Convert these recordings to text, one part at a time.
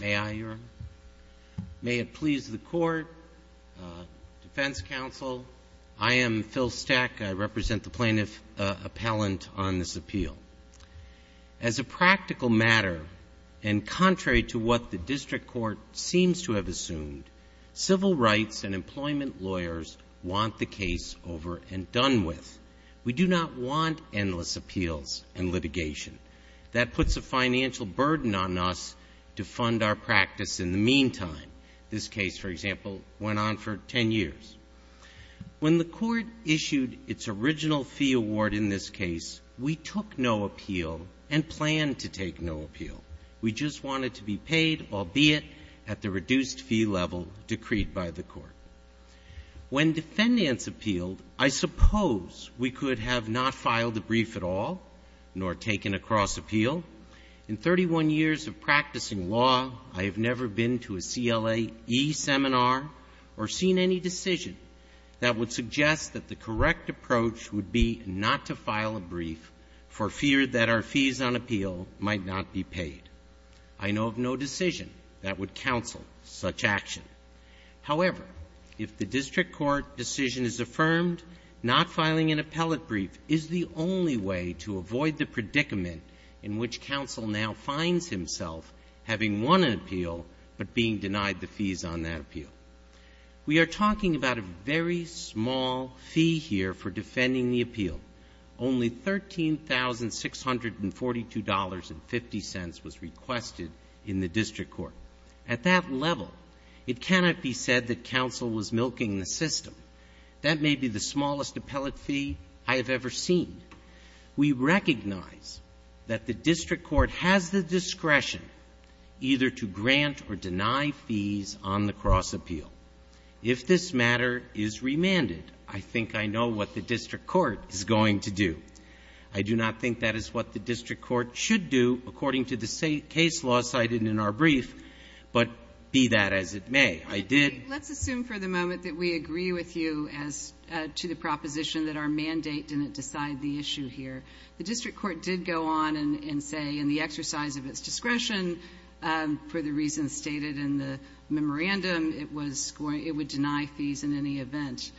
May I, Your Honor? May it please the Court, Defense Counsel, I am Phil Steck. I represent the plaintiff appellant on this appeal. As a practical matter, and contrary to what the District Court seems to have assumed, civil rights and employment lawyers want the case over and done with. We do not want endless appeals and litigation. That puts a financial burden on us to fund our practice in the meantime. This case, for example, went on for 10 years. When the Court issued its original fee award in this case, we took no appeal and planned to take no appeal. We just wanted to be paid, albeit at the reduced fee level decreed by the Court. When defendants appealed, I suppose we could have not filed the brief at all, nor taken a cross-appeal. In 31 years of practicing law, I have never been to a CLAe seminar or seen any decision that would suggest that the correct approach would be not to file a brief for fear that our fees on appeal might not be paid. I know of no decision that would counsel such action. However, if the District Court decision is affirmed, not filing an appellate brief is the only way to avoid the predicament in which counsel now finds himself having won an appeal but being denied the fees on that appeal. We are talking about a very small fee here for defending the appeal. Only $13,642.50 was requested in the District Court. At that level, it cannot be said that counsel was milking the system. That may be the smallest appellate fee I have ever seen. We recognize that the District Court has the discretion either to grant or deny fees on the cross-appeal. If this matter is remanded, I think I know what the District Court is going to do. I do not think that is what the District Court should do, according to the case law cited in our brief, but be that as it may, I did do that. The moment that we agree with you as to the proposition that our mandate didn't decide the issue here, the District Court did go on and say in the exercise of its discretion, for the reasons stated in the memorandum, it was going to deny fees in any event.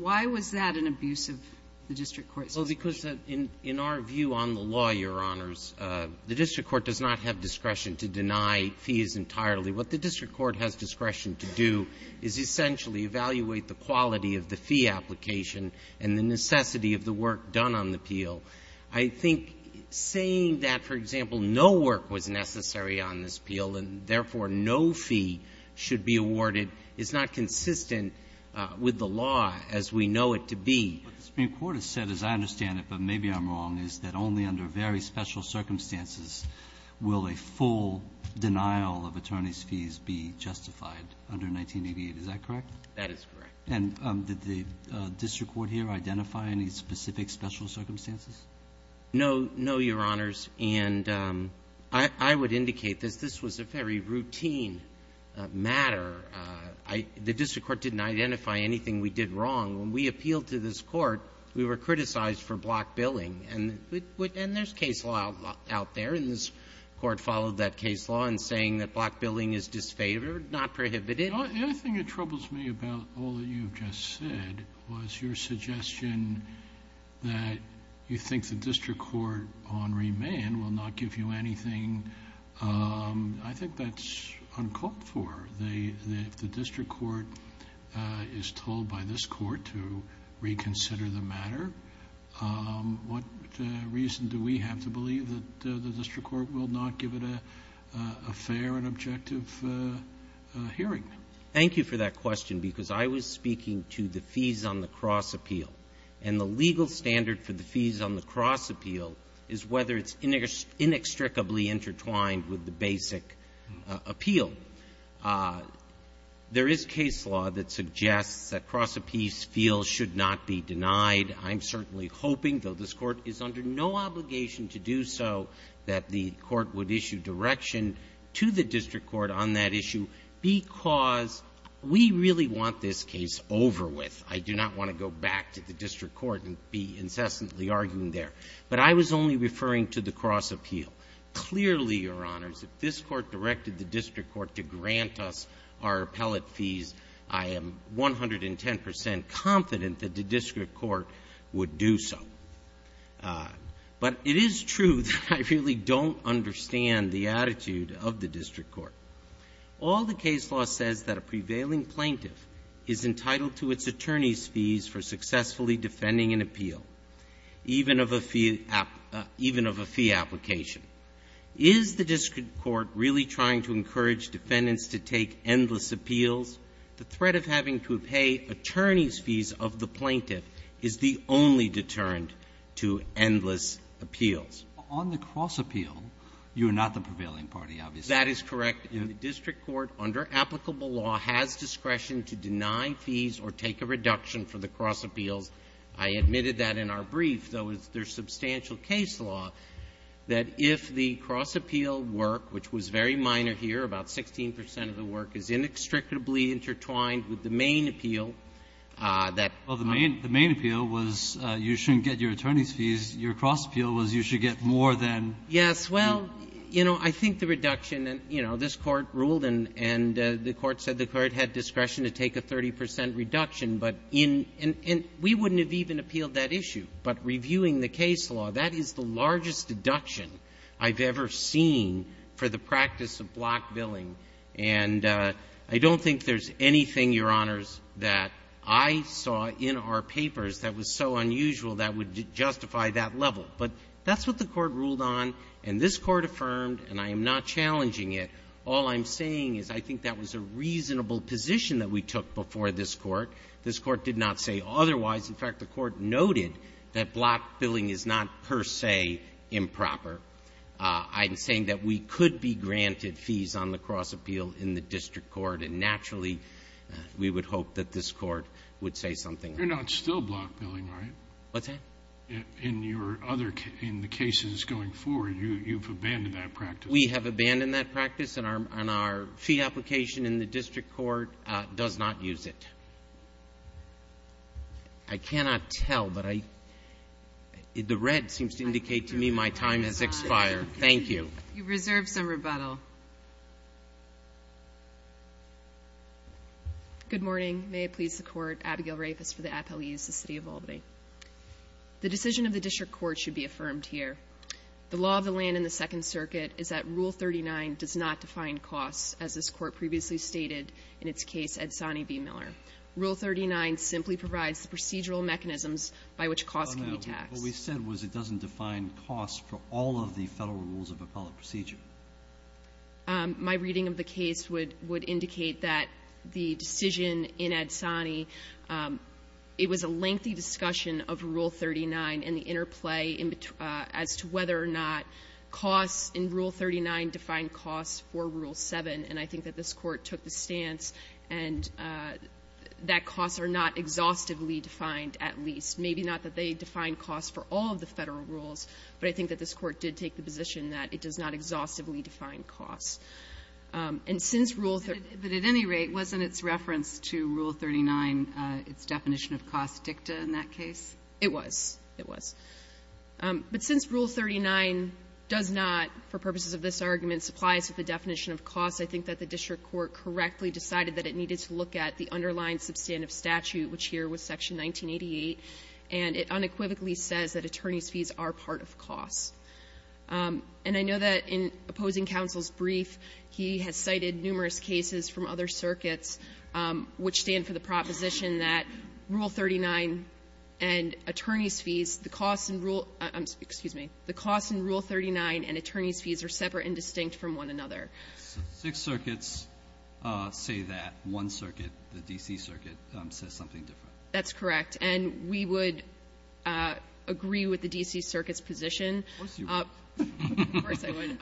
Why was that an abuse of the District Court's discretion? Well, because in our view on the law, Your Honors, the District Court does not have discretion to deny fees entirely. What the District Court has discretion to do is essentially evaluate the quality of the fee application and the necessity of the work done on the appeal. I think saying that, for example, no work was necessary on this appeal and, therefore, no fee should be awarded is not consistent with the law as we know it to be. What the Supreme Court has said, as I understand it, but maybe I'm wrong, is that only under very special circumstances will a full denial of attorneys' fees be justified under 1988. Is that correct? That is correct. And did the District Court here identify any specific special circumstances? No. No, Your Honors. And I would indicate this. This was a very routine matter. The District Court didn't identify anything we did wrong. When we appealed to this Court, we were criticized for block billing. And there's case law out there, and this block billing is disfavored, not prohibited. The other thing that troubles me about all that you've just said was your suggestion that you think the District Court on remand will not give you anything. I think that's uncalled for. If the District Court is told by this Court to reconsider the matter, what reason do we have to believe that the District Court will not give it a fair and objective hearing? Thank you for that question, because I was speaking to the fees on the cross appeal. And the legal standard for the fees on the cross appeal is whether it's inextricably intertwined with the basic appeal. There is case law that suggests that cross appeals feel should not be denied. I'm certainly hoping, though this Court is under no obligation to do so, that the Court would issue direction to the District Court on that issue, because we really want this case over with. I do not want to go back to the District Court and be incessantly arguing there. But I was only referring to the cross appeal. Clearly, Your Honors, if this Court confident that the District Court would do so. But it is true that I really don't understand the attitude of the District Court. All the case law says that a prevailing plaintiff is entitled to its attorney's fees for successfully defending an appeal, even of a fee application. Is the District Court really trying to encourage defendants to take endless appeals? The threat of having to pay attorney's fees of the plaintiff is the only deterrent to endless appeals. Roberts. On the cross appeal, you are not the prevailing party, obviously. That is correct. The District Court, under applicable law, has discretion to deny fees or take a reduction for the cross appeals. I admitted that in our brief, though it's their substantial case law, that if the cross appeal was to be intertwined with the main appeal, that the main appeal was you shouldn't get your attorney's fees. Your cross appeal was you should get more than fees. Yes. Well, you know, I think the reduction, and, you know, this Court ruled and the Court said the Court had discretion to take a 30 percent reduction, but in — and we wouldn't have even appealed that issue. But reviewing the case law, that is the largest deduction I've ever seen for the practice of block billing. And I don't think there's anything, Your Honors, that I saw in our papers that was so unusual that would justify that level. But that's what the Court ruled on, and this Court affirmed, and I am not challenging it. All I'm saying is I think that was a reasonable position that we took before this Court. This Court did not say otherwise. In fact, the Court noted that block billing is not per se improper. I'm saying that we could be granted fees on the cross appeal in the district court, and naturally, we would hope that this Court would say something. You're not still block billing, right? What's that? In your other — in the cases going forward, you've abandoned that practice. We have abandoned that practice, and our — and our fee application in the district court does not use it. I cannot tell, but I — the red seems to indicate to me my time has expired. Thank you. You've reserved some rebuttal. Good morning. May it please the Court. Abigail Rafis for the Appellees, the City of Albany. The decision of the district court should be affirmed here. The law of the land in the Second Circuit is that Rule 39 does not define costs, as this Court previously stated in its case at Zannie v. Miller. Rule 39 simply provides the procedural mechanisms by which costs can be taxed. What we said was it doesn't define costs for all of the federal rules of appellate procedure. My reading of the case would indicate that the decision in Ad Sani, it was a lengthy discussion of Rule 39 and the interplay as to whether or not costs in Rule 39 define costs for Rule 7. And I think that this Court took the stance, and that costs are not exhaustively defined, at least. Maybe not that they define costs for all of the federal rules, but I think that this Court did take the position that it does not exhaustively define costs. And since Rule 39 But at any rate, wasn't its reference to Rule 39 its definition of cost dicta in that case? It was. It was. But since Rule 39 does not, for purposes of this argument, supply us with a definition of costs, I think that the district court correctly decided that it needed to look at the underlying substantive statute, which here was Section 1988, and it unequivocally says that attorneys' fees are part of costs. And I know that in opposing counsel's brief, he has cited numerous cases from other circuits which stand for the proposition that Rule 39 and attorneys' fees, the costs in Rule 39 and attorneys' fees are separate and distinct from one another. So six circuits say that. One circuit, the D.C. Circuit, says something different. That's correct. And we would agree with the D.C. Circuit's position. Of course you would. Of course I would.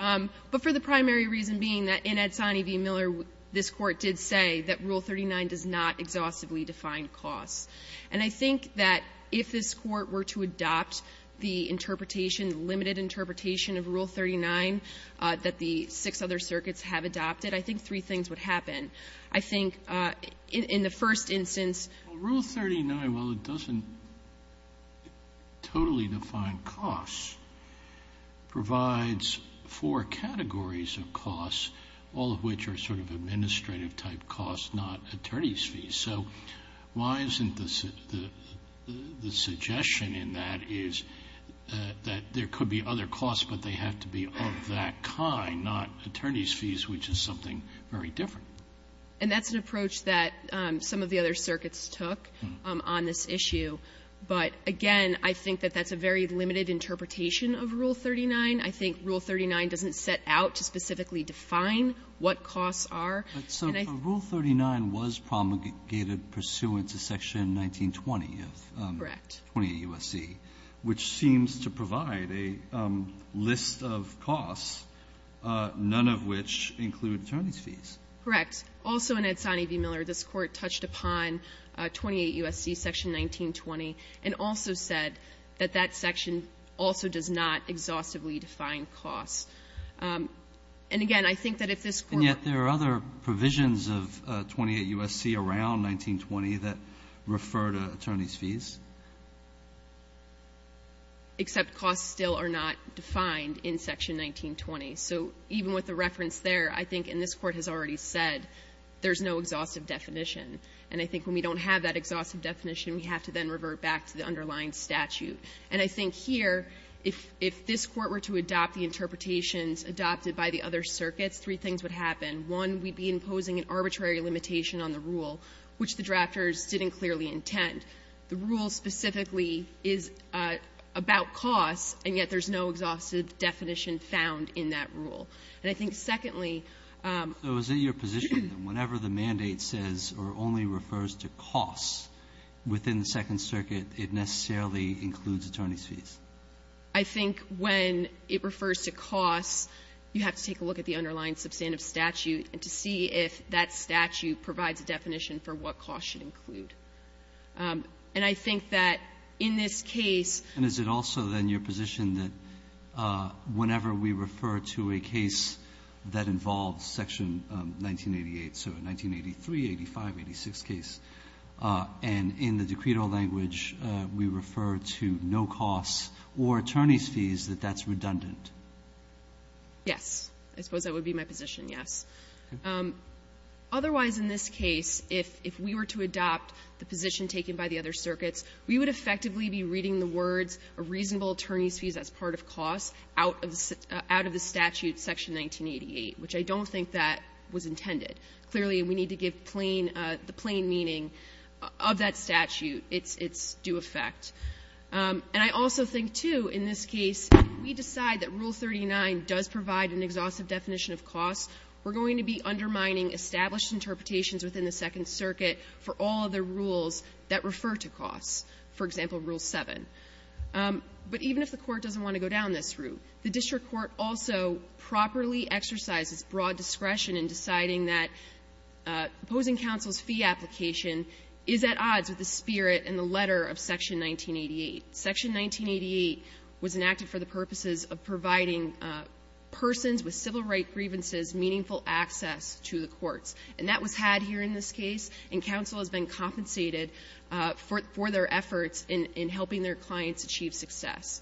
But for the primary reason being that in Edsoni v. Miller, this Court did say that Rule 39 does not exhaustively define costs. And I think that if this Court were to adopt the interpretation, the limited interpretation of Rule 39, that the six other circuits have adopted, I think three things would happen. I think in the first instance… Rule 39, while it doesn't totally define costs, provides four categories of costs, all of which are sort of administrative-type costs, not attorneys' fees. So why isn't the suggestion in that is that there could be other costs, but they have to be of that kind, not attorneys' fees, which is something very different. And that's an approach that some of the other circuits took on this issue. But again, I think that that's a very limited interpretation of Rule 39. I think Rule 39 doesn't set out to specifically define what costs are. But so Rule 39 was promulgated pursuant to Section 1920 of 28 U.S.C., which seems to provide a list of costs, none of which include attorneys' fees. Correct. Also in Edsoni v. Miller, this Court touched upon 28 U.S.C. Section 1920 and also said that that section also does not exhaustively define costs. And again, I think that if this Court… And yet there are other provisions of 28 U.S.C. around 1920 that refer to attorneys' fees. Except costs still are not defined in Section 1920. So even with the reference there, I think, and this Court has already said, there's no exhaustive definition. And I think when we don't have that exhaustive definition, we have to then revert back to the underlying statute. And I think here, if this Court were to adopt the interpretations adopted by the other circuits, three things would happen. One, we'd be imposing an arbitrary limitation on the rule, which the drafters didn't clearly intend. The rule specifically is about costs, and yet there's no exhaustive definition found in that rule. And I think, secondly… So is it your position that whenever the mandate says or only refers to costs within the Second Circuit, it necessarily includes attorneys' fees? I think when it refers to costs, you have to take a look at the underlying substantive statute to see if that statute provides a definition for what costs should include. And I think that in this case… And is it also, then, your position that whenever we refer to a case that involves Section 1988, so 1983, 85, 86 case, and in the decreed-all language, we refer to no costs or attorneys' fees, that that's redundant? Yes. I suppose that would be my position, yes. Otherwise, in this case, if we were to adopt the position taken by the other circuits, we would effectively be reading the words, a reasonable attorney's fees as part of costs, out of the statute, Section 1988, which I don't think that was intended. Clearly, we need to give plain the plain meaning of that statute its due effect. And I also think, too, in this case, we decide that Rule 39 does provide an exhaustive definition of costs. We're going to be undermining established interpretations within the Second Circuit for all of the rules that refer to costs, for example, Rule 7. But even if the Court doesn't want to go down this route, the district court also properly exercises broad discretion in deciding that opposing counsel's fee application is at odds with the spirit and the letter of Section 1988. Section 1988 was enacted for the purposes of providing persons with civil right grievances as meaningful access to the courts, and that was had here in this case, and counsel has been compensated for their efforts in helping their clients achieve success.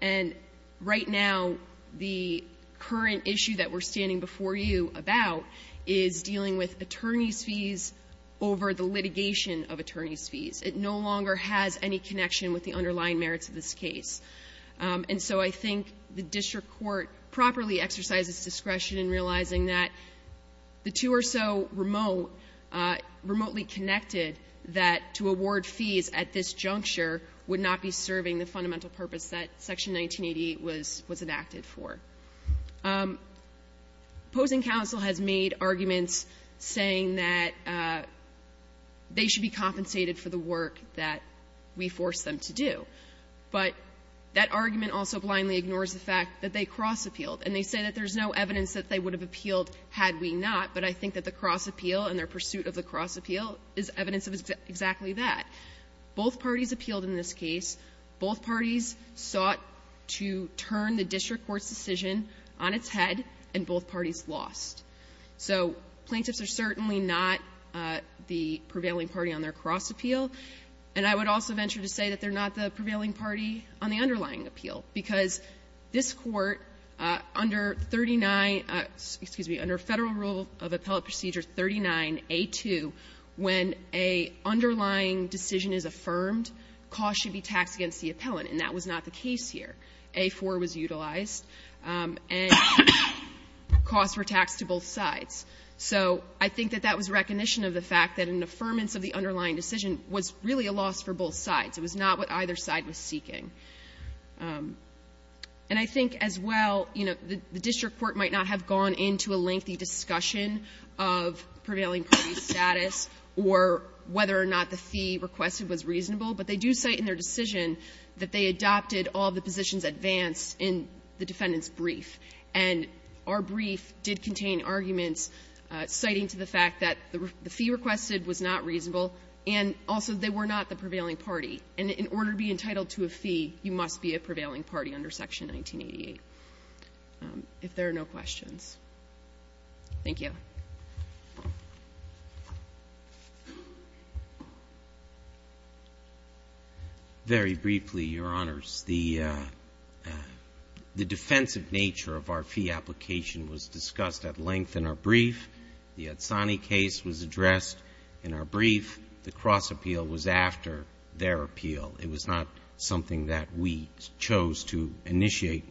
And right now, the current issue that we're standing before you about is dealing with attorney's fees over the litigation of attorney's fees. It no longer has any connection with the underlying merits of this case. And so I think the district court properly exercises discretion in realizing that the two are so remote, remotely connected, that to award fees at this juncture would not be serving the fundamental purpose that Section 1988 was enacted for. Opposing counsel has made arguments saying that they should be compensated for the work that we forced them to do. But that argument also blindly ignores the fact that they cross-appealed. And they say that there's no evidence that they would have appealed had we not, but I think that the cross-appeal and their pursuit of the cross-appeal is evidence of exactly that. Both parties appealed in this case. Both parties sought to turn the district court's decision on its head, and both parties lost. So plaintiffs are certainly not the prevailing party on their cross-appeal. And I would also venture to say that they're not the prevailing party on the underlying appeal, because this Court, under 39 — excuse me — under Federal Rule of Appellate Procedure 39A2, when a underlying decision is affirmed, cost should be taxed against the appellant, and that was not the case here. A4 was utilized, and costs were taxed to both sides. So I think that that was recognition of the fact that an affirmance of the underlying decision was really a loss for both sides. It was not what either side was seeking. And I think as well, you know, the district court might not have gone into a lengthy discussion of prevailing party status or whether or not the fee requested was reasonable, but they do cite in their decision that they adopted all the positions advanced in the defendant's brief. And our brief did contain arguments citing to the fact that the fee requested was not reasonable, and also they were not the prevailing party. And in order to be entitled to a fee, you must be a prevailing party under Section 1988, if there are no questions. Thank you. Very briefly, Your Honors, the defensive nature of our fee application was discussed at length in our brief. The Adsani case was addressed in our brief. The cross-appeal was after their appeal. It was not something that we chose to initiate.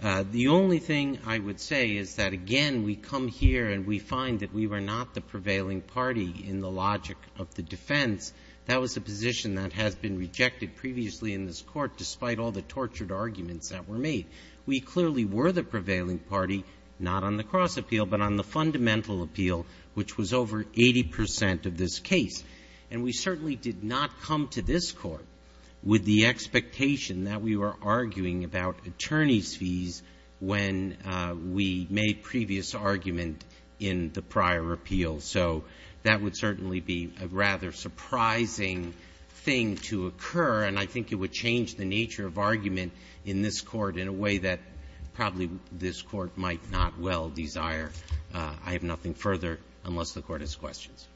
The only thing I would say is that, again, we come here and we find that we were not the prevailing party in the logic of the defense. That was a position that has been rejected previously in this Court, despite all the tortured arguments that were made. We clearly were the prevailing party, not on the cross-appeal, but on the fundamental appeal, which was over 80 percent of this case. And we certainly did not come to this Court with the expectation that we were arguing about attorneys' fees when we made previous argument in the prior appeal. So that would certainly be a rather surprising thing to occur, and I think it would change the nature of argument in this Court in a way that probably this Court might not well desire. I have nothing further, unless the Court has questions.